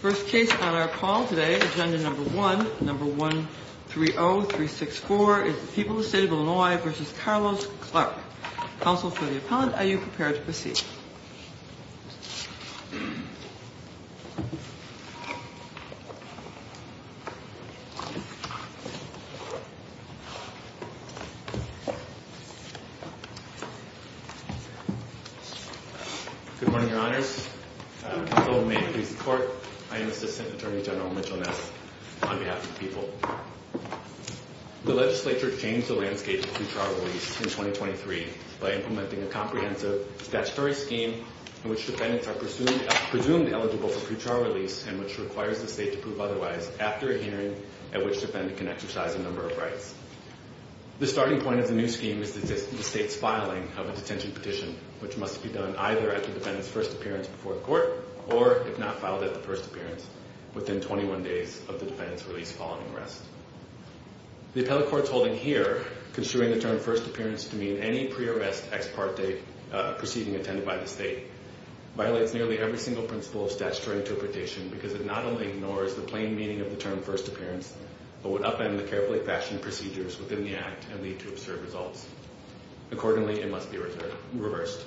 First case on our call today, agenda number one, number 130364, is the people of the state of Illinois v. Carlos Clark. Counsel for the appellant, are you prepared to proceed? Good morning, your honors. Counsel may please report. I am Assistant Attorney General Mitchell Ness on behalf of the people. The legislature changed the landscape of pre-trial release in 2023 by implementing a comprehensive statutory scheme in which defendants are presumed eligible for pre-trial release and which requires the state to prove otherwise after a hearing at which defendant can exercise a number of rights. The starting point of the new scheme is the state's filing of a detention petition, which must be done either at the defendant's first appearance before the court or, if not filed at the first appearance, within 21 days of the defendant's release following arrest. The appellate court's holding here, construing the term first appearance to mean any pre-arrest ex parte proceeding attended by the state, violates nearly every single principle of statutory interpretation because it not only ignores the plain meaning of the term first appearance but would upend the carefully fashioned procedures within the act and lead to absurd results. Accordingly, it must be reversed.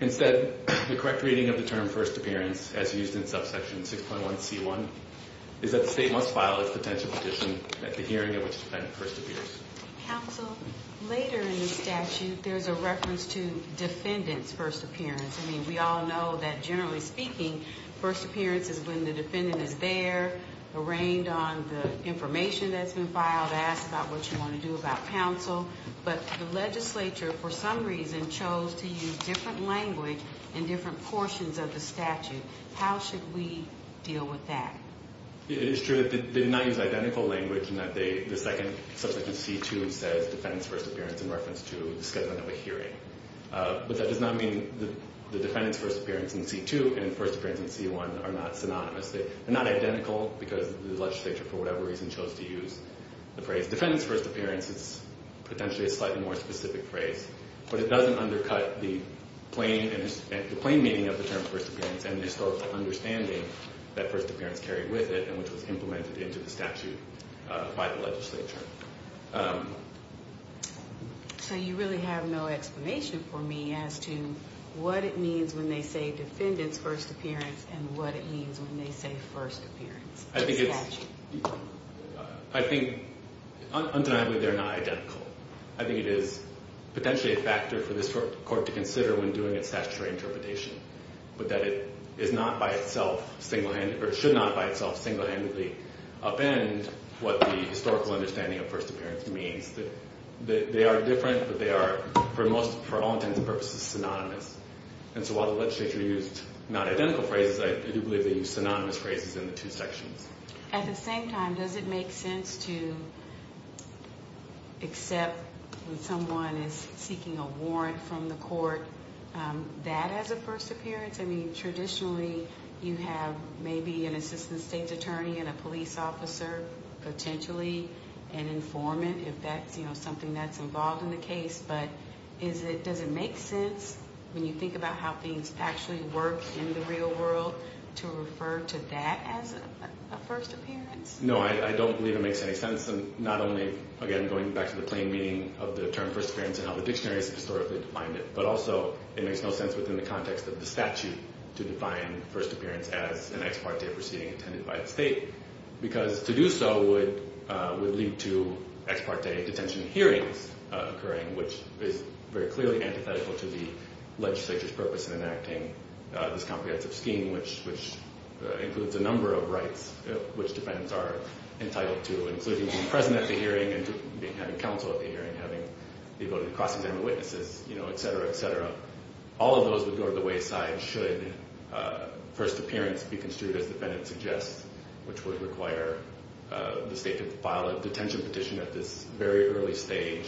Instead, the correct reading of the term first appearance, as used in subsection 6.1c1, is that the state must file its detention petition at the hearing at which the defendant first appears. Counsel, later in the statute, there's a reference to defendant's first appearance. I mean, we all know that, generally speaking, first appearance is when the defendant is there, arraigned on the information that's been filed, asked about what you want to do about counsel. But the legislature, for some reason, chose to use different language in different portions of the statute. How should we deal with that? It is true that they did not use identical language in that the second subsection, c2, says defendant's first appearance in reference to the scheduling of a hearing. But that does not mean the defendant's first appearance in c2 and first appearance in c1 are not synonymous. They're not identical because the legislature, for whatever reason, chose to use the phrase defendant's first appearance. It's potentially a slightly more specific phrase. But it doesn't undercut the plain meaning of the term first appearance and the historical understanding that first appearance carried with it and which was implemented into the statute by the legislature. So you really have no explanation for me as to what it means when they say defendant's first appearance and what it means when they say first appearance in the statute? I think, undeniably, they're not identical. I think it is potentially a factor for this court to consider when doing its statutory interpretation. But that it is not by itself, or should not by itself, single-handedly upend what the historical understanding of first appearance means. They are different, but they are, for all intents and purposes, synonymous. And so while the legislature used not identical phrases, I do believe they used synonymous phrases in the two sections. At the same time, does it make sense to accept when someone is seeking a warrant from the court that as a first appearance? I mean, traditionally, you have maybe an assistant state's attorney and a police officer, potentially, an informant, if that's something that's involved in the case. But does it make sense, when you think about how things actually work in the real world, to refer to that as a first appearance? No, I don't believe it makes any sense. And not only, again, going back to the plain meaning of the term first appearance and how the dictionary has historically defined it, but also it makes no sense within the context of the statute to define first appearance as an ex parte proceeding attended by the state. Because to do so would lead to ex parte detention hearings occurring, which is very clearly antithetical to the legislature's purpose in enacting this comprehensive scheme, which includes a number of rights which defendants are entitled to, including being present at the hearing and having counsel at the hearing, having the ability to cross-examine witnesses, et cetera, et cetera. All of those would go to the wayside should first appearance be construed, as the defendant suggests, which would require the state to file a detention petition at this very early stage.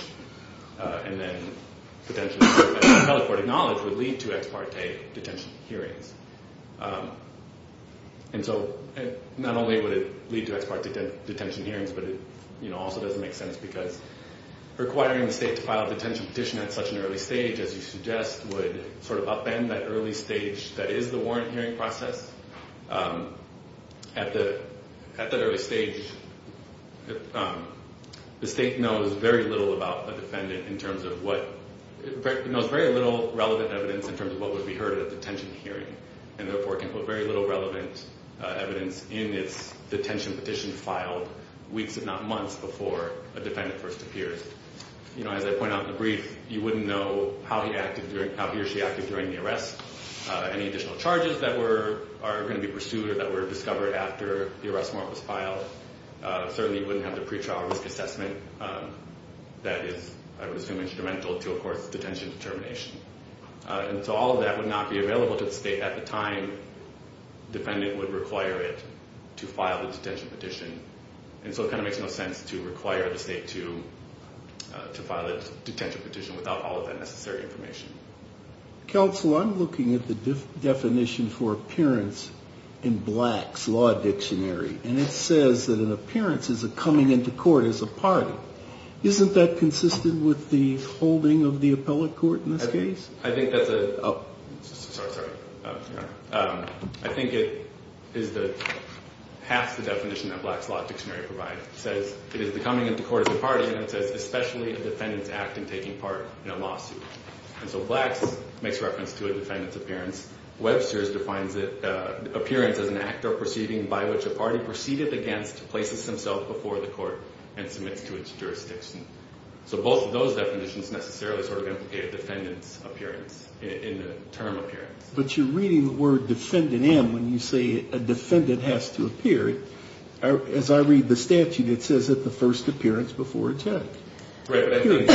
And then potentially teleporting knowledge would lead to ex parte detention hearings. And so not only would it lead to ex parte detention hearings, but it also doesn't make sense because requiring the state to file a detention petition at such an early stage, as you suggest, would sort of upend that early stage that is the warrant hearing process. At that early stage, the state knows very little relevant evidence in terms of what would be heard at a detention hearing, and therefore can put very little relevant evidence in its detention petition filed weeks, if not months, before a defendant first appears. As I point out in the brief, you wouldn't know how he or she acted during the arrest. Any additional charges that are going to be pursued or that were discovered after the arrest warrant was filed, certainly wouldn't have the pretrial risk assessment that is, I would assume, instrumental to, of course, detention determination. And so all of that would not be available to the state at the time defendant would require it to file the detention petition. And so it kind of makes no sense to require the state to file a detention petition without all of that necessary information. Counsel, I'm looking at the definition for appearance in Black's Law Dictionary, and it says that an appearance is a coming into court as a party. Isn't that consistent with the holding of the appellate court in this case? I think that's a – sorry, sorry. I think it is the – half the definition that Black's Law Dictionary provides says it is the coming into court as a party, and it says especially a defendant's act in taking part in a lawsuit. And so Black's makes reference to a defendant's appearance. Webster's defines appearance as an act or proceeding by which a party proceeded against, places himself before the court, and submits to its jurisdiction. So both of those definitions necessarily sort of implicate a defendant's appearance in the term appearance. But you're reading the word defendant in when you say a defendant has to appear. As I read the statute, it says that the first appearance before attack. Right,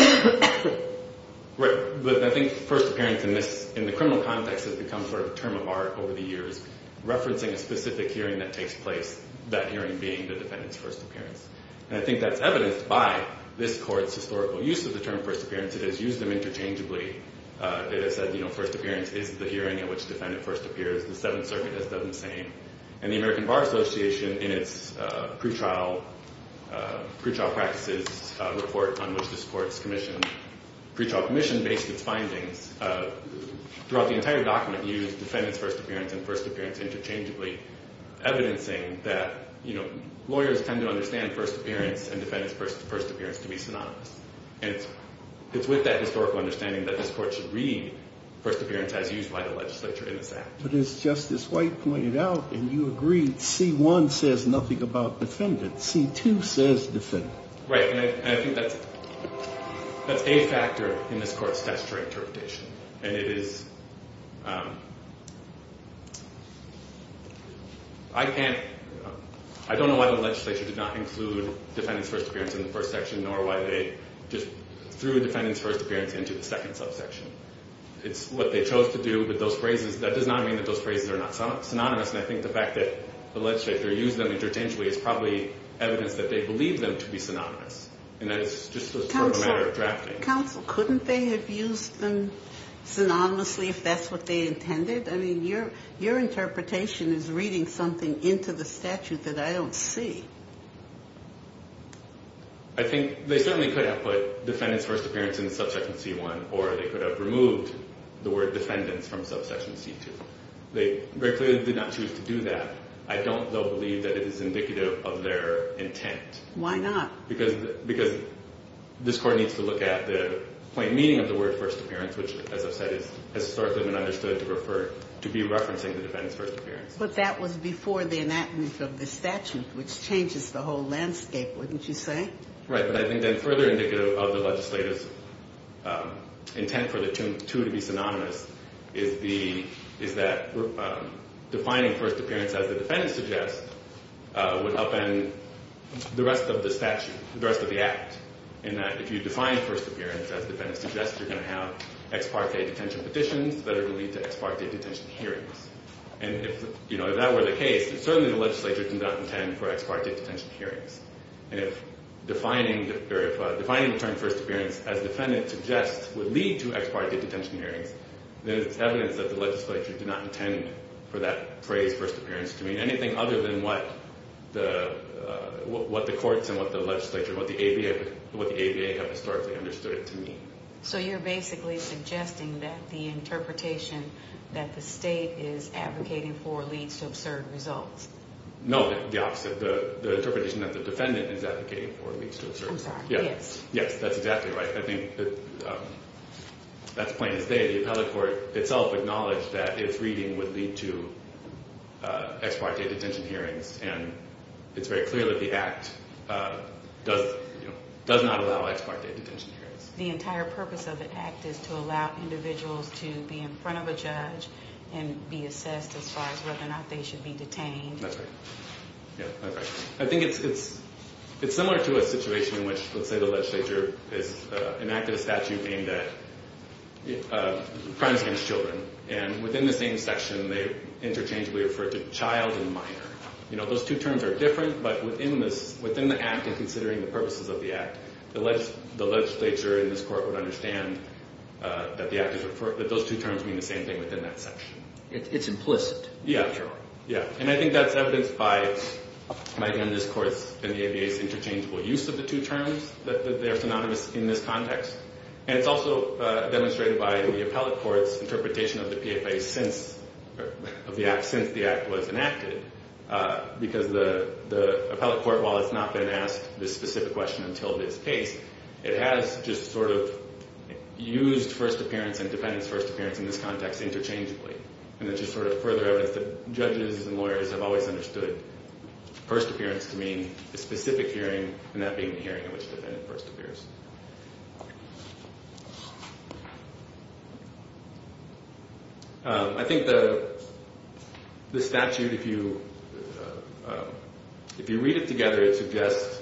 but I think first appearance in this – in the criminal context has become sort of a term of art over the years, referencing a specific hearing that takes place, that hearing being the defendant's first appearance. And I think that's evidenced by this court's historical use of the term first appearance. It has used them interchangeably. It has said, you know, first appearance is the hearing in which the defendant first appears. The Seventh Circuit has done the same. And the American Bar Association, in its pretrial practices report on which this court's commission – pretrial commission based its findings, throughout the entire document used defendant's first appearance and first appearance interchangeably, evidencing that, you know, lawyers tend to understand first appearance and defendant's first appearance to be synonymous. And it's with that historical understanding that this court should read first appearance as used by the legislature in this act. But as Justice White pointed out, and you agreed, C1 says nothing about defendant. C2 says defendant. Right, and I think that's a factor in this court's statutory interpretation. And it is – I can't – I don't know why the legislature did not include defendant's first appearance in the first section, nor why they just threw defendant's first appearance into the second subsection. It's what they chose to do, but those phrases – that does not mean that those phrases are not synonymous. And I think the fact that the legislature used them interchangeably is probably evidence that they believe them to be synonymous. And that is just a matter of drafting. Counsel, couldn't they have used them synonymously if that's what they intended? I mean, your interpretation is reading something into the statute that I don't see. I think they certainly could have put defendant's first appearance in the subsection C1, or they could have removed the word defendants from subsection C2. They very clearly did not choose to do that. I don't, though, believe that it is indicative of their intent. Why not? Because this Court needs to look at the plain meaning of the word first appearance, which, as I've said, has historically been understood to refer – to be referencing the defendant's first appearance. But that was before the enactment of the statute, which changes the whole landscape, wouldn't you say? Right, but I think that further indicative of the legislature's intent for the two to be synonymous is that defining first appearance as the defendant suggests would upend the rest of the statute, the rest of the Act, in that if you define first appearance as the defendant suggests, you're going to have ex parte detention petitions that are going to lead to ex parte detention hearings. And if that were the case, certainly the legislature did not intend for ex parte detention hearings. And if defining the term first appearance as defendant suggests would lead to ex parte detention hearings, then it's evidence that the legislature did not intend for that phrase first appearance to mean anything other than what the courts and what the legislature and what the ABA have historically understood it to mean. So you're basically suggesting that the interpretation that the state is advocating for leads to absurd results? No, the opposite. The interpretation that the defendant is advocating for leads to absurd results. I'm sorry, yes. Yes, that's exactly right. I think that's plain as day. The appellate court itself acknowledged that its reading would lead to ex parte detention hearings, and it's very clear that the Act does not allow ex parte detention hearings. The entire purpose of the Act is to allow individuals to be in front of a judge and be assessed as far as whether or not they should be detained. That's right. Yeah, that's right. I think it's similar to a situation in which, let's say, the legislature enacted a statute aimed at crimes against children, and within the same section they interchangeably referred to child and minor. Those two terms are different, but within the Act and considering the purposes of the Act, the legislature in this court would understand that those two terms mean the same thing within that section. It's implicit. Yeah, yeah. And I think that's evidenced by, again, this Court's and the ABA's interchangeable use of the two terms, that they're synonymous in this context. And it's also demonstrated by the appellate court's interpretation of the PFA since the Act was enacted, because the appellate court, while it's not been asked this specific question until this case, it has just sort of used first appearance and defendant's first appearance in this context interchangeably. And it's just sort of further evidence that judges and lawyers have always understood first appearance to mean a specific hearing, and that being the hearing in which the defendant first appears. I think the statute, if you read it together, it suggests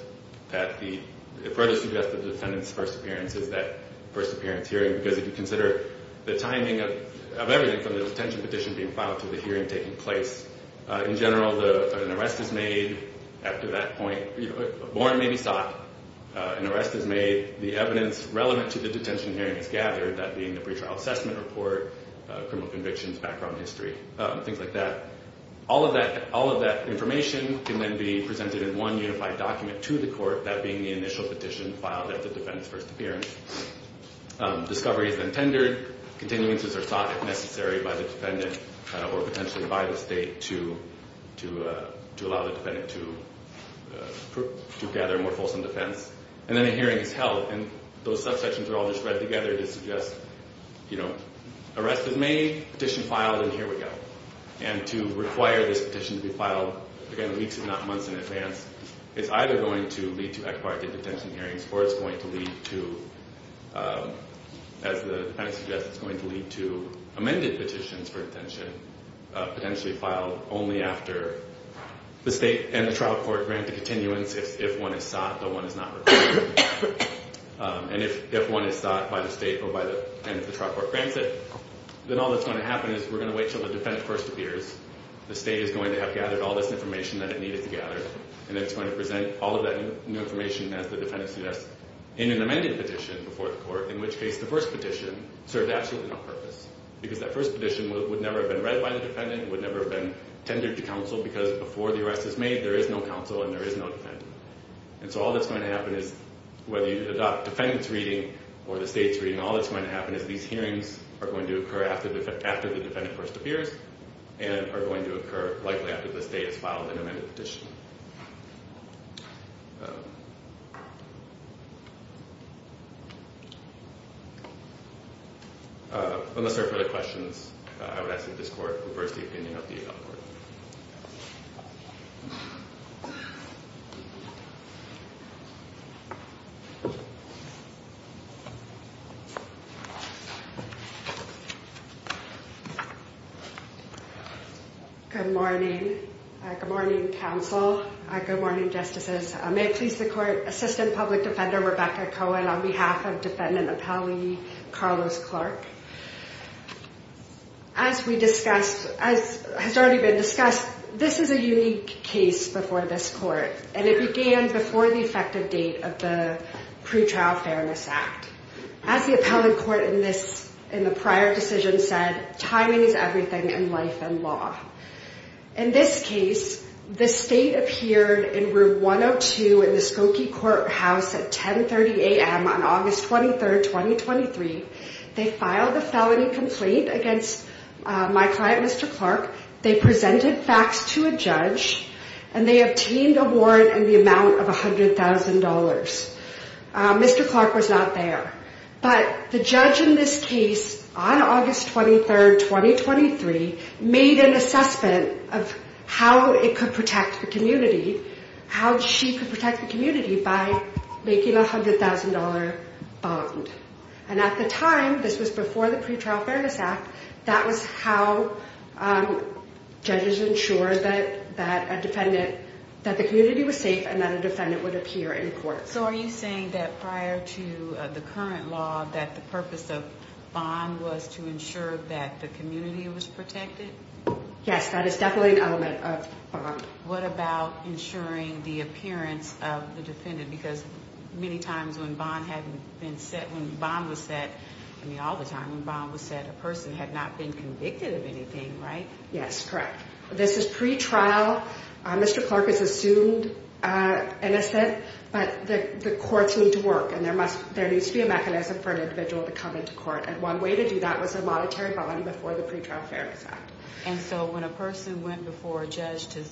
that the first appearance is that first appearance hearing, because if you consider the timing of everything from the detention petition being filed to the hearing taking place, in general, an arrest is made after that point. A warrant may be sought. An arrest is made. The evidence relevant to the detention hearing is gathered, that being the pretrial assessment report, criminal convictions, background history, things like that. All of that information can then be presented in one unified document to the court, that being the initial petition filed at the defendant's first appearance. Discovery is then tendered. Continuances are sought if necessary by the defendant or potentially by the state to allow the defendant to gather more fulsome defense. And then a hearing is held, and those subsections are all just read together to suggest, you know, arrest is made, petition filed, and here we go. And to require this petition to be filed, again, weeks if not months in advance, it's either going to lead to acquired detention hearings or it's going to lead to, as the defendant suggests, it's going to lead to amended petitions for detention potentially filed only after the state and the trial court grant the continuance if one is sought, though one is not required. And if one is sought by the state and the trial court grants it, then all that's going to happen is we're going to wait until the defendant first appears. The state is going to have gathered all this information that it needed to gather, and it's going to present all of that new information as the defendant suggests in an amended petition before the court, in which case the first petition served absolutely no purpose because that first petition would never have been read by the defendant, would never have been tendered to counsel because before the arrest is made, there is no counsel and there is no defendant. And so all that's going to happen is whether you adopt defendant's reading or the state's reading, all that's going to happen is these hearings are going to occur after the defendant first appears, and are going to occur likely after the state has filed an amended petition. Unless there are further questions, I would ask that this court reverse the opinion of the adult court. Good morning. Good morning, counsel. Good morning, justices. May it please the court, Assistant Public Defender Rebecca Cohen on behalf of Defendant Appellee Carlos Clark. As has already been discussed, this is a unique case before this court, and it began before the effective date of the Pretrial Fairness Act. As the appellate court in the prior decision said, timing is everything in life and law. In this case, the state appeared in Room 102 in the Skokie Courthouse at 10.30 a.m. on August 23, 2023. They filed a felony complaint against my client, Mr. Clark. They presented facts to a judge, and they obtained a warrant in the amount of $100,000. Mr. Clark was not there, but the judge in this case on August 23, 2023, made an assessment of how it could protect the community, how she could protect the community by making a $100,000 bond. And at the time, this was before the Pretrial Fairness Act, that was how judges ensured that a defendant, that the community was safe and that a defendant would appear in court. So are you saying that prior to the current law, that the purpose of bond was to ensure that the community was protected? Yes, that is definitely an element of bond. What about ensuring the appearance of the defendant? Because many times when bond was set, I mean all the time when bond was set, a person had not been convicted of anything, right? Yes, correct. This is pretrial. Mr. Clark is assumed innocent, but the courts need to work, and there needs to be a mechanism for an individual to come into court. And one way to do that was a monetary bond before the Pretrial Fairness Act. And so when a person went before a judge to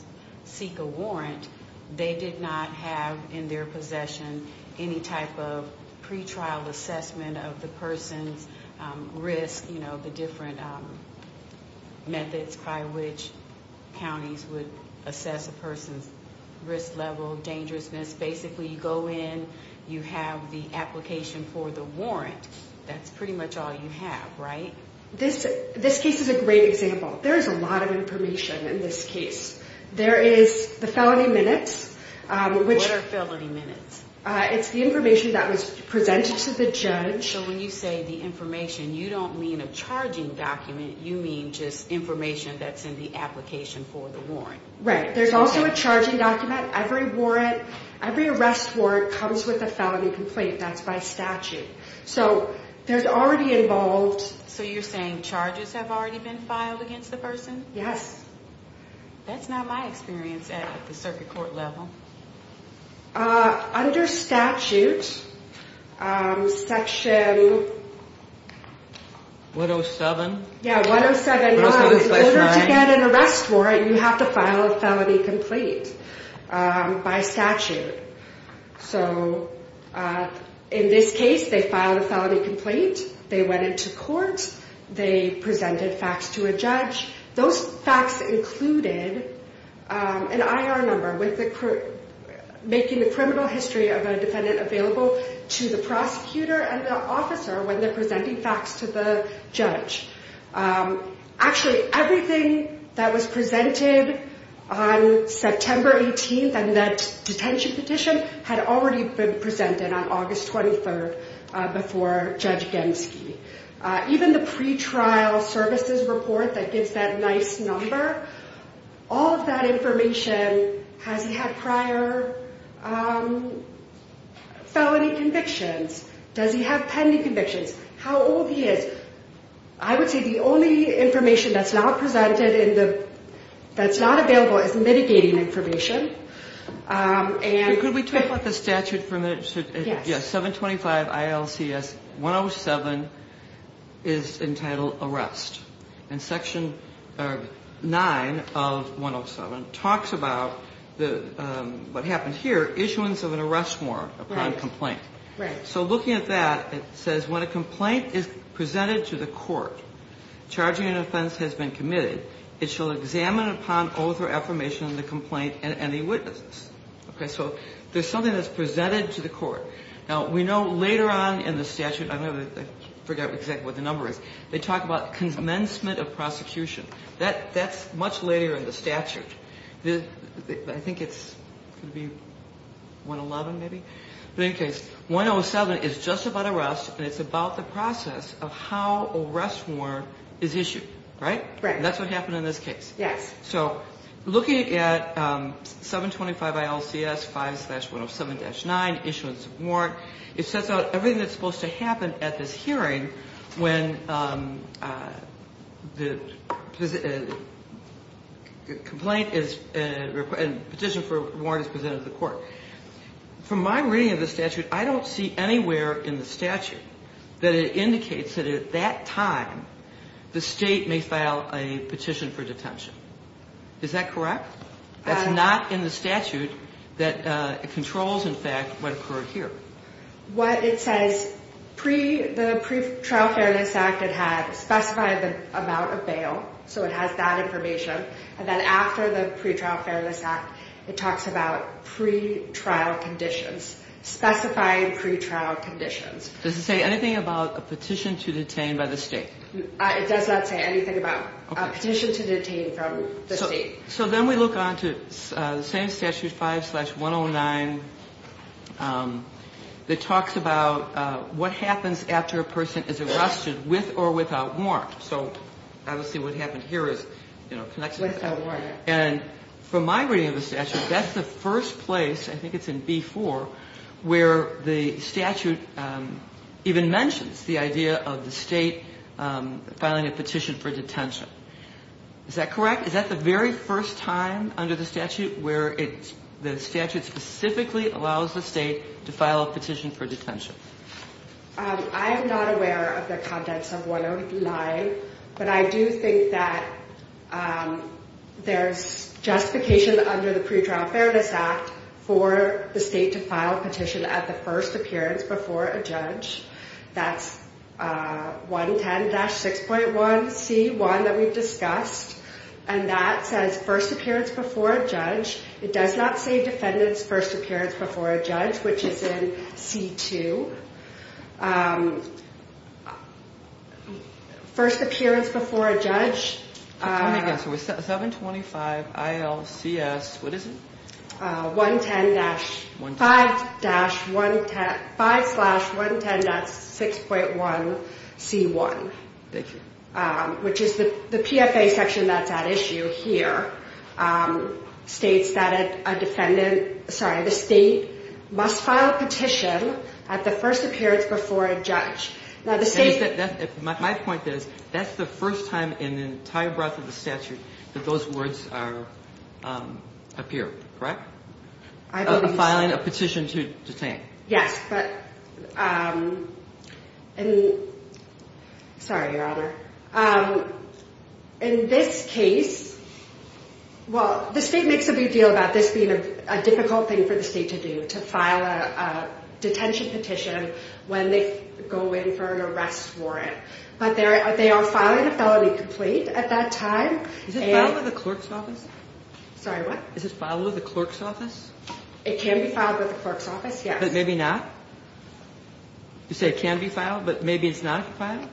seek a warrant, they did not have in their possession any type of pretrial assessment of the person's risk, you know, the different methods by which counties would assess a person's risk level, dangerousness. Basically, you go in, you have the application for the warrant. That's pretty much all you have, right? This case is a great example. There is a lot of information in this case. There is the felony minutes. What are felony minutes? It's the information that was presented to the judge. So when you say the information, you don't mean a charging document. You mean just information that's in the application for the warrant. Right. There's also a charging document. Every warrant, every arrest warrant comes with a felony complaint. That's by statute. So there's already involved... So you're saying charges have already been filed against the person? Yes. That's not my experience at the circuit court level. Under statute, Section... 107? Yeah, 107. In order to get an arrest warrant, you have to file a felony complaint by statute. So in this case, they filed a felony complaint. They went into court. They presented facts to a judge. Those facts included an IR number, making the criminal history of a defendant available to the prosecutor and the officer when they're presenting facts to the judge. Actually, everything that was presented on September 18th and that detention petition had already been presented on August 23rd before Judge Genske. Even the pretrial services report that gives that nice number, all of that information, has he had prior felony convictions? Does he have pending convictions? How old he is? I would say the only information that's not presented and that's not available is mitigating information. Could we talk about the statute for a minute? Yes. Yes, 725 ILCS 107 is entitled arrest. And Section 9 of 107 talks about what happened here, issuance of an arrest warrant upon complaint. Right. So looking at that, it says when a complaint is presented to the court, charging an offense has been committed, it shall examine upon oath or affirmation of the complaint and any witnesses. Okay, so there's something that's presented to the court. Now, we know later on in the statute, I forget exactly what the number is, they talk about commencement of prosecution. That's much later in the statute. I think it's going to be 111 maybe. But in any case, 107 is just about arrest and it's about the process of how arrest warrant is issued, right? Right. And that's what happened in this case. Yes. So looking at 725 ILCS 5-107-9, issuance of warrant, it sets out everything that's supposed to happen at this hearing when the petition for warrant is presented to the court. From my reading of the statute, I don't see anywhere in the statute that it indicates that at that time the state may file a petition for detention. Is that correct? That's not in the statute that controls, in fact, what occurred here. What it says, the Pretrial Fairness Act, it had specified the amount of bail, so it has that information. And then after the Pretrial Fairness Act, it talks about pretrial conditions, specified pretrial conditions. Does it say anything about a petition to detain by the state? It does not say anything about a petition to detain from the state. So then we look on to the same Statute 5-109 that talks about what happens after a person is arrested with or without warrant. So obviously what happened here is, you know, connected to that. And from my reading of the statute, that's the first place, I think it's in B-4, where the statute even mentions the idea of the state filing a petition for detention. Is that correct? Is that the very first time under the statute where the statute specifically allows the state to file a petition for detention? I'm not aware of the contents of 109, but I do think that there's justification under the Pretrial Fairness Act for the state to file a petition at the first appearance before a judge. That's 110-6.1C1 that we've discussed. And that says first appearance before a judge. It does not say defendants first appearance before a judge, which is in C-2. First appearance before a judge. 725 ILCS, what is it? 110-5-5-110.6.1C1. Thank you. Which is the PFA section that's at issue here states that a defendant, sorry, the state must file a petition at the first appearance before a judge. My point is that's the first time in the entire breadth of the statute that those words appear, correct? Filing a petition to detain. Yes. Sorry, Your Honor. In this case, well, the state makes a big deal about this being a difficult thing for the state to do, to file a detention petition when they go in for an arrest warrant. But they are filing a felony complete at that time. Is it filed with the clerk's office? Sorry, what? Is it filed with the clerk's office? It can be filed with the clerk's office, yes. But maybe not? You say it can be filed, but maybe it's not filed?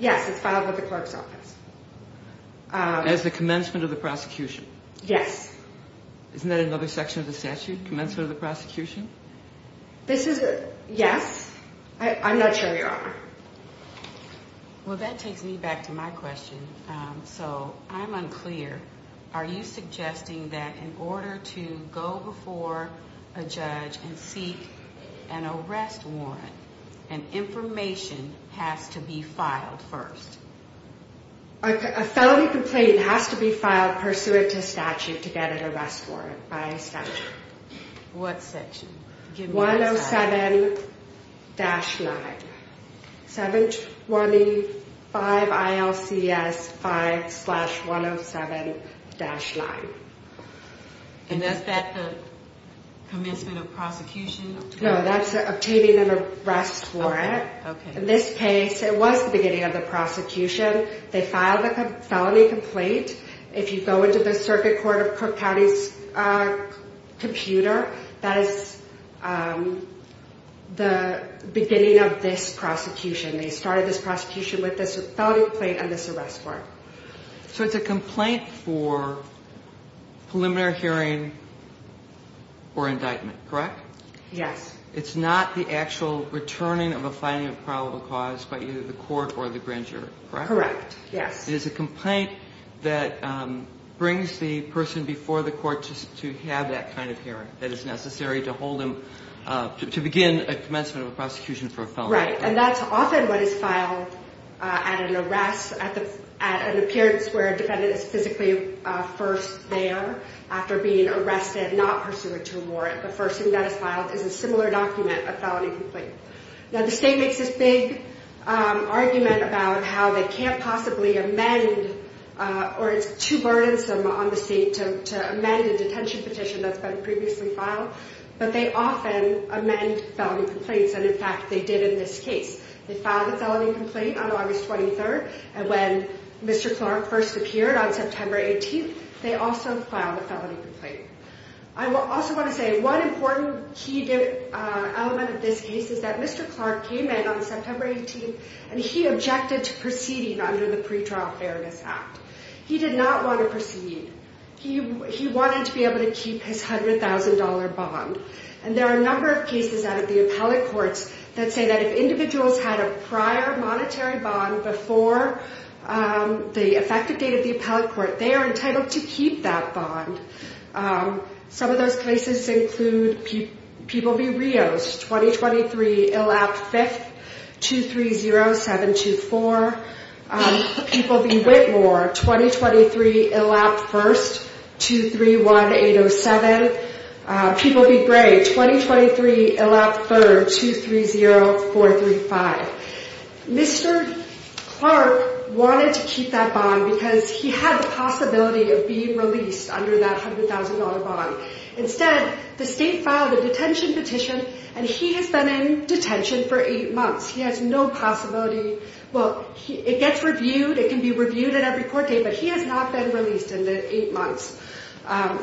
Yes, it's filed with the clerk's office. As the commencement of the prosecution. Yes. Isn't that another section of the statute, commencement of the prosecution? This is, yes. I'm not sure, Your Honor. Well, that takes me back to my question. So I'm unclear. Are you suggesting that in order to go before a judge and seek an arrest warrant, an information has to be filed first? A felony complaint has to be filed pursuant to statute to get an arrest warrant by statute. What section? 107-9, 725 ILCS 5-107-9. And is that the commencement of prosecution? No, that's obtaining an arrest warrant. Okay. In this case, it was the beginning of the prosecution. They filed a felony complaint. If you go into the circuit court of Cook County's computer, that is the beginning of this prosecution. They started this prosecution with this felony complaint and this arrest warrant. So it's a complaint for preliminary hearing or indictment, correct? Yes. It's not the actual returning of a finding of probable cause by either the court or the grand jury, correct? Correct, yes. It is a complaint that brings the person before the court to have that kind of hearing that is necessary to hold them to begin a commencement of a prosecution for a felony. Right. And that's often what is filed at an arrest, at an appearance where a defendant is physically first there after being arrested, not pursuant to a warrant. The first thing that is filed is a similar document, a felony complaint. Now, the state makes this big argument about how they can't possibly amend or it's too burdensome on the state to amend a detention petition that's been previously filed. But they often amend felony complaints. And, in fact, they did in this case. They filed a felony complaint on August 23rd. And when Mr. Clark first appeared on September 18th, they also filed a felony complaint. I also want to say one important key element of this case is that Mr. Clark came in on September 18th, and he objected to proceeding under the Pretrial Fairness Act. He did not want to proceed. He wanted to be able to keep his $100,000 bond. And there are a number of cases out of the appellate courts that say that if individuals had a prior monetary bond before the effective date of the appellate court, they are entitled to keep that bond. Some of those cases include people v. Rios, 2023, ILAP 5th, 230724. People v. Whitmore, 2023, ILAP 1st, 231807. People v. Gray, 2023, ILAP 3rd, 230435. Mr. Clark wanted to keep that bond because he had the possibility of being released under that $100,000 bond. Instead, the state filed a detention petition, and he has been in detention for eight months. He has no possibility. Well, it gets reviewed. It can be reviewed at every court date, but he has not been released in the eight months.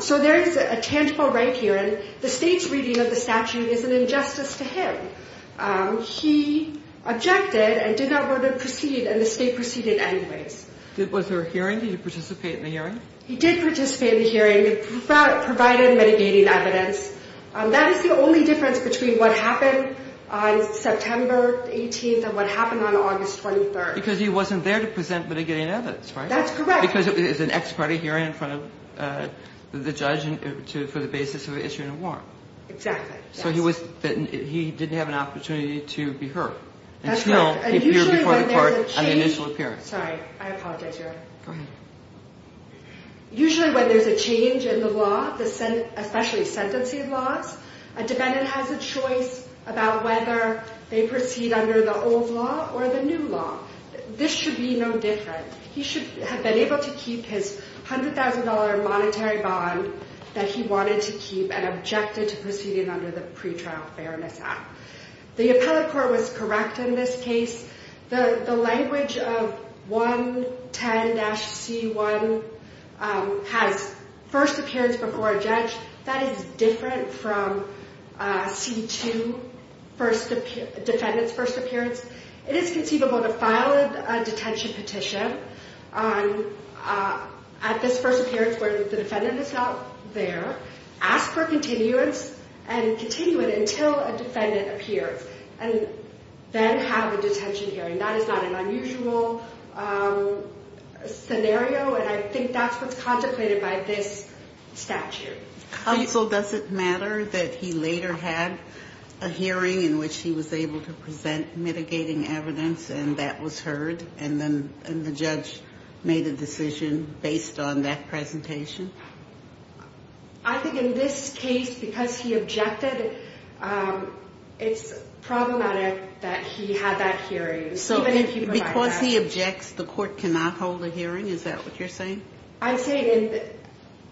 So there is a tangible right here, and the state's reading of the statute is an injustice to him. He objected and did not want to proceed, and the state proceeded anyways. Was there a hearing? Did he participate in the hearing? He did participate in the hearing. It provided mitigating evidence. That is the only difference between what happened on September 18th and what happened on August 23rd. Because he wasn't there to present mitigating evidence, right? That's correct. Because it was an ex-party hearing in front of the judge for the basis of issuing a warrant. Exactly. So he didn't have an opportunity to be heard. That's right. And still, he appeared before the court on the initial appearance. Sorry. I apologize, Your Honor. Go ahead. Usually when there's a change in the law, especially sentencing laws, a defendant has a choice about whether they proceed under the old law or the new law. This should be no different. He should have been able to keep his $100,000 monetary bond that he wanted to keep and objected to proceeding under the pretrial fairness act. The appellate court was correct in this case. The language of 110-C1 has first appearance before a judge. That is different from C2, defendant's first appearance. It is conceivable to file a detention petition at this first appearance where the defendant is not there, ask for continuance, and continue it until a defendant appears, and then have a detention hearing. That is not an unusual scenario, and I think that's what's contemplated by this statute. Counsel, does it matter that he later had a hearing in which he was able to present mitigating evidence and that was heard and the judge made a decision based on that presentation? I think in this case, because he objected, it's problematic that he had that hearing. Because he objects, the court cannot hold a hearing? Is that what you're saying? I'm saying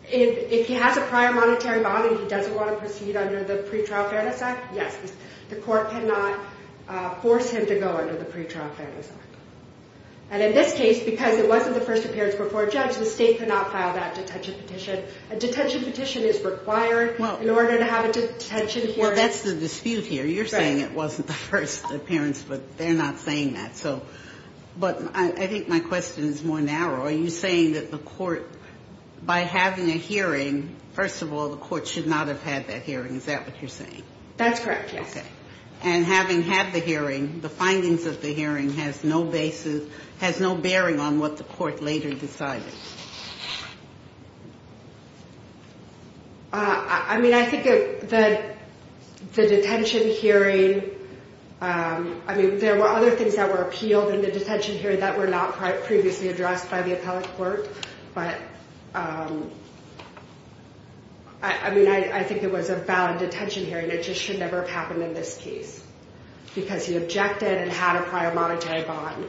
if he has a prior monetary bond and he doesn't want to proceed under the pretrial fairness act, yes. The court cannot force him to go under the pretrial fairness act. And in this case, because it wasn't the first appearance before a judge, the state could not file that detention petition. A detention petition is required in order to have a detention hearing. Well, that's the dispute here. You're saying it wasn't the first appearance, but they're not saying that. But I think my question is more narrow. Are you saying that the court, by having a hearing, first of all, the court should not have had that hearing. Is that what you're saying? That's correct, yes. Okay. And having had the hearing, the findings of the hearing has no basis, has no bearing on what the court later decided. I mean, I think the detention hearing, I mean, there were other things that were appealed in the detention hearing that were not previously addressed by the appellate court. But I mean, I think it was a valid detention hearing. It just should never have happened in this case because he objected and had a prior monetary bond.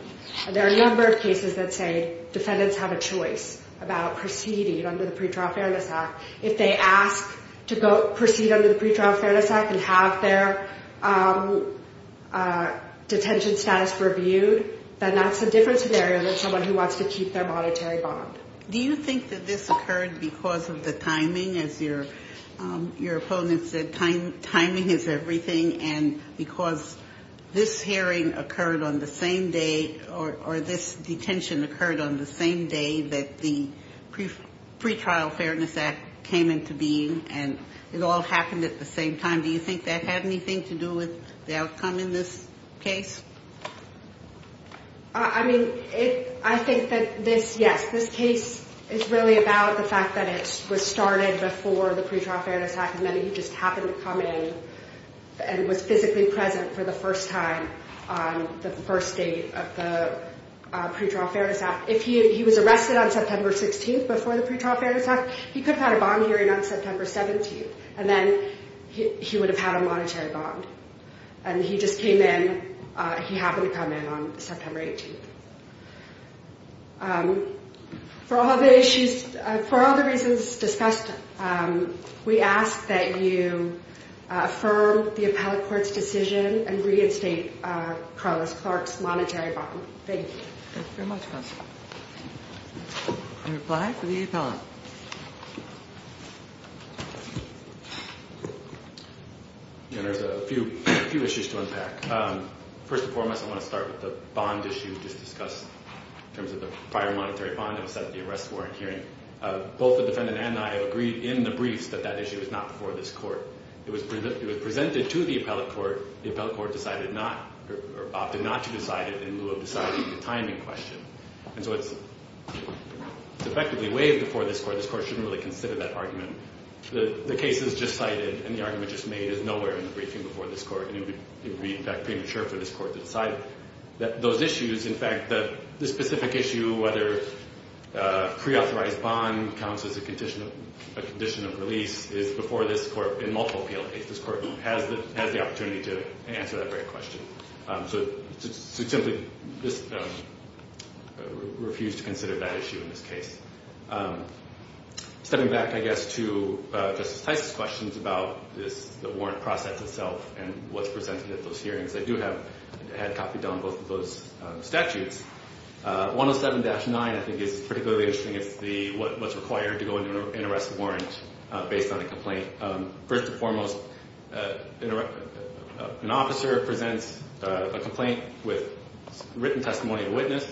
And there are a number of cases that say defendants have a choice about proceeding under the pretrial fairness act. If they ask to proceed under the pretrial fairness act and have their detention status reviewed, then that's a different scenario than someone who wants to keep their monetary bond. Do you think that this occurred because of the timing? As your opponent said, timing is everything. And because this hearing occurred on the same day or this detention occurred on the same day that the pretrial fairness act came into being and it all happened at the same time, do you think that had anything to do with the outcome in this case? I mean, I think that this, yes, this case is really about the fact that it was started before the pretrial fairness act and then he just happened to come in and was physically present for the first time on the first day of the pretrial fairness act. If he was arrested on September 16th before the pretrial fairness act, he could have had a bond hearing on September 17th. And then he would have had a monetary bond. And he just came in, he happened to come in on September 18th. For all the issues, for all the reasons discussed, we ask that you affirm the appellate court's decision and reinstate Carlos Clark's monetary bond. Thank you. Thank you very much, counsel. Any reply for the appellant? There's a few issues to unpack. First and foremost, I want to start with the bond issue just discussed in terms of the prior monetary bond that was set at the arrest warrant hearing. Both the defendant and I agreed in the briefs that that issue was not before this court. It was presented to the appellate court. The appellate court opted not to decide it in lieu of deciding the timing question. And so it's effectively waived before this court. This court shouldn't really consider that argument. The case is just cited and the argument just made is nowhere in the briefing before this court. And it would be, in fact, premature for this court to decide those issues. In fact, the specific issue, whether preauthorized bond counts as a condition of release, is before this court in multiple appeal cases. This court has the opportunity to answer that very question. So to simply just refuse to consider that issue in this case. Stepping back, I guess, to Justice Tice's questions about the warrant process itself and what's presented at those hearings. I do have a copy of both of those statutes. 107-9, I think, is particularly interesting. It's what's required to go into an arrest warrant based on a complaint. First and foremost, an officer presents a complaint with written testimony of witness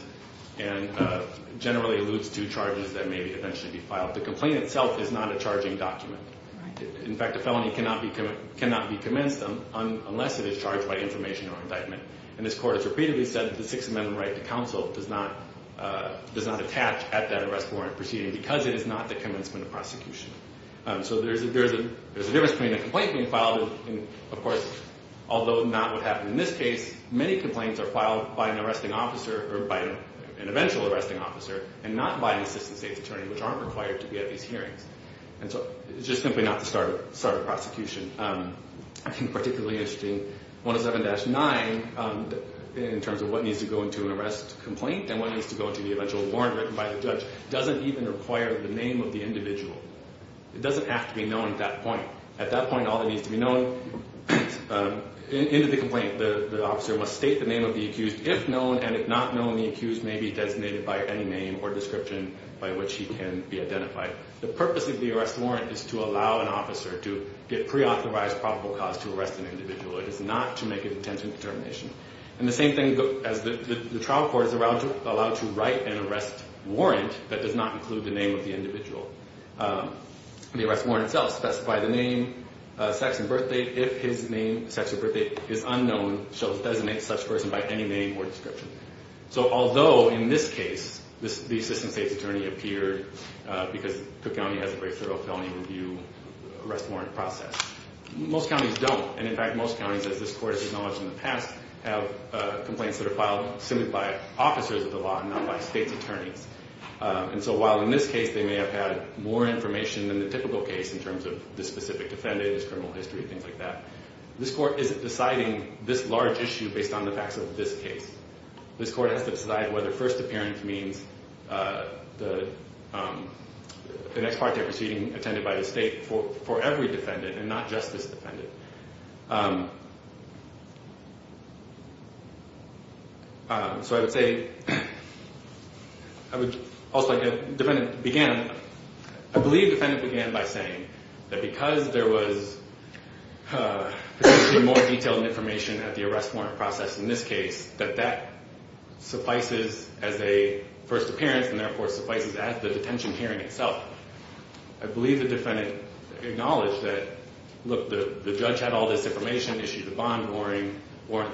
and generally alludes to charges that may eventually be filed. The complaint itself is not a charging document. In fact, a felony cannot be commenced unless it is charged by information or indictment. And this court has repeatedly said that the Sixth Amendment right to counsel does not attach at that arrest warrant proceeding because it is not the commencement of prosecution. So there's a difference between a complaint being filed and, of course, although not what happened in this case, many complaints are filed by an arresting officer or by an eventual arresting officer, and not by an assistant state's attorney, which aren't required to be at these hearings. And so it's just simply not the start of prosecution. I think particularly interesting, 107-9, in terms of what needs to go into an arrest complaint and what needs to go into the eventual warrant written by the judge, doesn't even require the name of the individual. It doesn't have to be known at that point. At that point, all that needs to be known into the complaint, the officer must state the name of the accused. If known and if not known, the accused may be designated by any name or description by which he can be identified. The purpose of the arrest warrant is to allow an officer to get preauthorized probable cause to arrest an individual. It is not to make an intent and determination. And the same thing as the trial court is allowed to write an arrest warrant that does not include the name of the individual. The arrest warrant itself specifies the name, sex, and birth date. If his name, sex, or birth date is unknown, she'll designate such a person by any name or description. So although in this case the assistant state's attorney appeared because Cook County has a very thorough felony review arrest warrant process, most counties don't. And in fact, most counties, as this court has acknowledged in the past, have complaints that are filed simply by officers of the law and not by state's attorneys. And so while in this case they may have had more information than the typical case in terms of this specific defendant, his criminal history, things like that, this court isn't deciding this large issue based on the facts of this case. This court has to decide whether first appearance means the next part of their proceeding attended by the state for every defendant and not just this defendant. So I would say, I believe the defendant began by saying that because there was more detailed information at the arrest warrant process in this case, that that suffices as a first appearance and therefore suffices as the detention hearing itself. I believe the defendant acknowledged that, look, the judge had all this information, issued a bond warrant,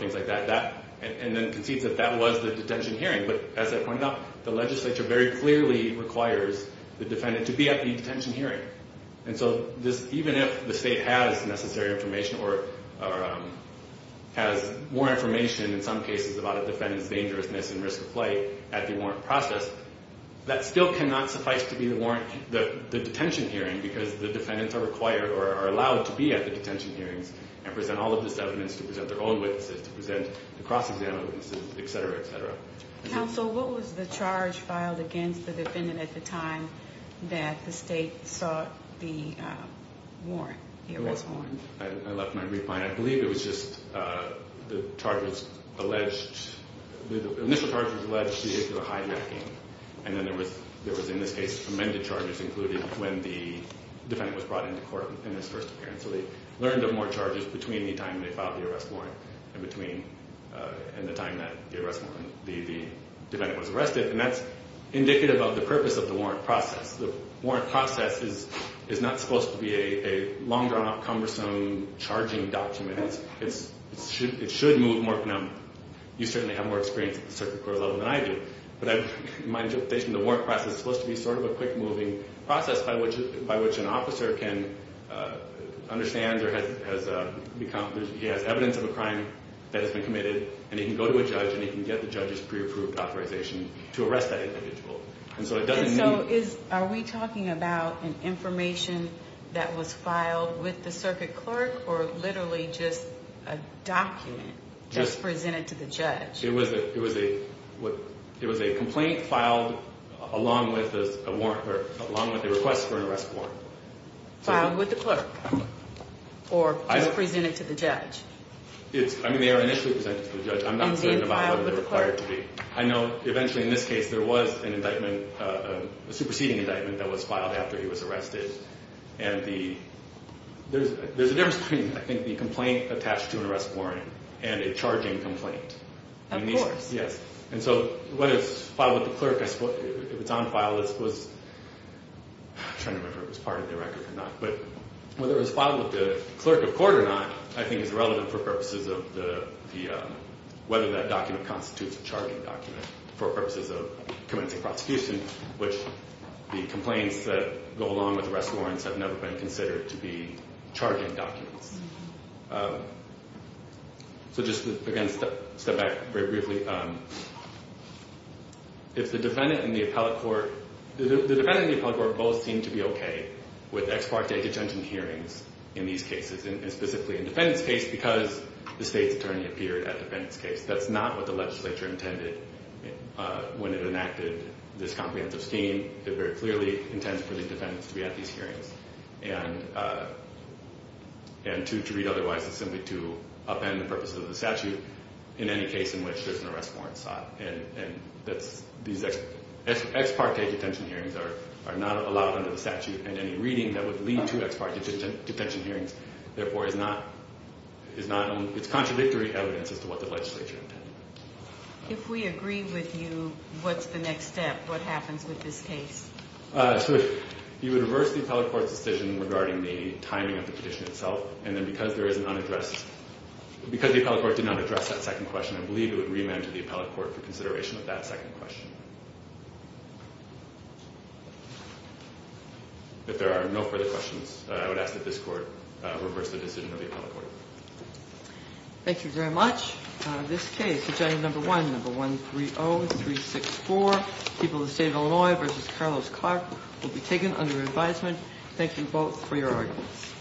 things like that. And then concedes that that was the detention hearing. But as I pointed out, the legislature very clearly requires the defendant to be at the detention hearing. And so even if the state has necessary information or has more information in some cases about a defendant's dangerousness and risk of flight at the warrant process, that still cannot suffice to be the detention hearing because the defendants are allowed to be at the detention hearings and present all of this evidence, to present their own witnesses, to present the cross-examination, et cetera, et cetera. Counsel, what was the charge filed against the defendant at the time that the state sought the warrant, the arrest warrant? I left my brief behind. I believe it was just the charge was alleged, the initial charge was alleged vehicular hijacking. And then there was, in this case, amended charges, including when the defendant was brought into court in his first appearance. So they learned of more charges between the time they filed the arrest warrant and the time that the defendant was arrested. And that's indicative of the purpose of the warrant process. The warrant process is not supposed to be a long, drawn-out, cumbersome charging document. It should move more. Now, you certainly have more experience at the circuit court level than I do. But my interpretation of the warrant process is it's supposed to be sort of a quick-moving process by which an officer can understand or he has evidence of a crime that has been committed, and he can go to a judge, and he can get the judge's pre-approved authorization to arrest that individual. So are we talking about an information that was filed with the circuit clerk or literally just a document just presented to the judge? It was a complaint filed along with a request for an arrest warrant. Filed with the clerk or just presented to the judge? I mean, they were initially presented to the judge. I'm not saying about how they were required to be. I know eventually in this case there was an indictment, a superseding indictment, that was filed after he was arrested. And there's a difference between, I think, the complaint attached to an arrest warrant and a charging complaint. Of course. Yes. And so whether it's filed with the clerk, if it's on file, it was – I'm trying to remember if it was part of the record or not. But whether it was filed with the clerk of court or not, I think, is relevant for purposes of the – whether that document constitutes a charging document for purposes of commencing prosecution, which the complaints that go along with arrest warrants have never been considered to be charging documents. So just, again, step back very briefly. If the defendant and the appellate court – the defendant and the appellate court both seem to be okay with ex parte detention hearings in these cases, and specifically in the defendant's case because the state's attorney appeared at the defendant's case. That's not what the legislature intended when it enacted this comprehensive scheme. It very clearly intends for the defendants to be at these hearings. And to read otherwise is simply to upend the purposes of the statute in any case in which there's an arrest warrant sought. And these ex parte detention hearings are not allowed under the statute, and any reading that would lead to ex parte detention hearings, therefore, is not – it's contradictory evidence as to what the legislature intended. If we agree with you, what's the next step? What happens with this case? So if you would reverse the appellate court's decision regarding the timing of the petition itself, and then because there is an unaddressed – because the appellate court did not address that second question, I believe it would remand to the appellate court for consideration of that second question. If there are no further questions, I would ask that this court reverse the decision of the appellate court. Thank you very much. This case, agenda number one, number 130364, People of the State of Illinois v. Carlos Clark, will be taken under advisement. Thank you both for your arguments.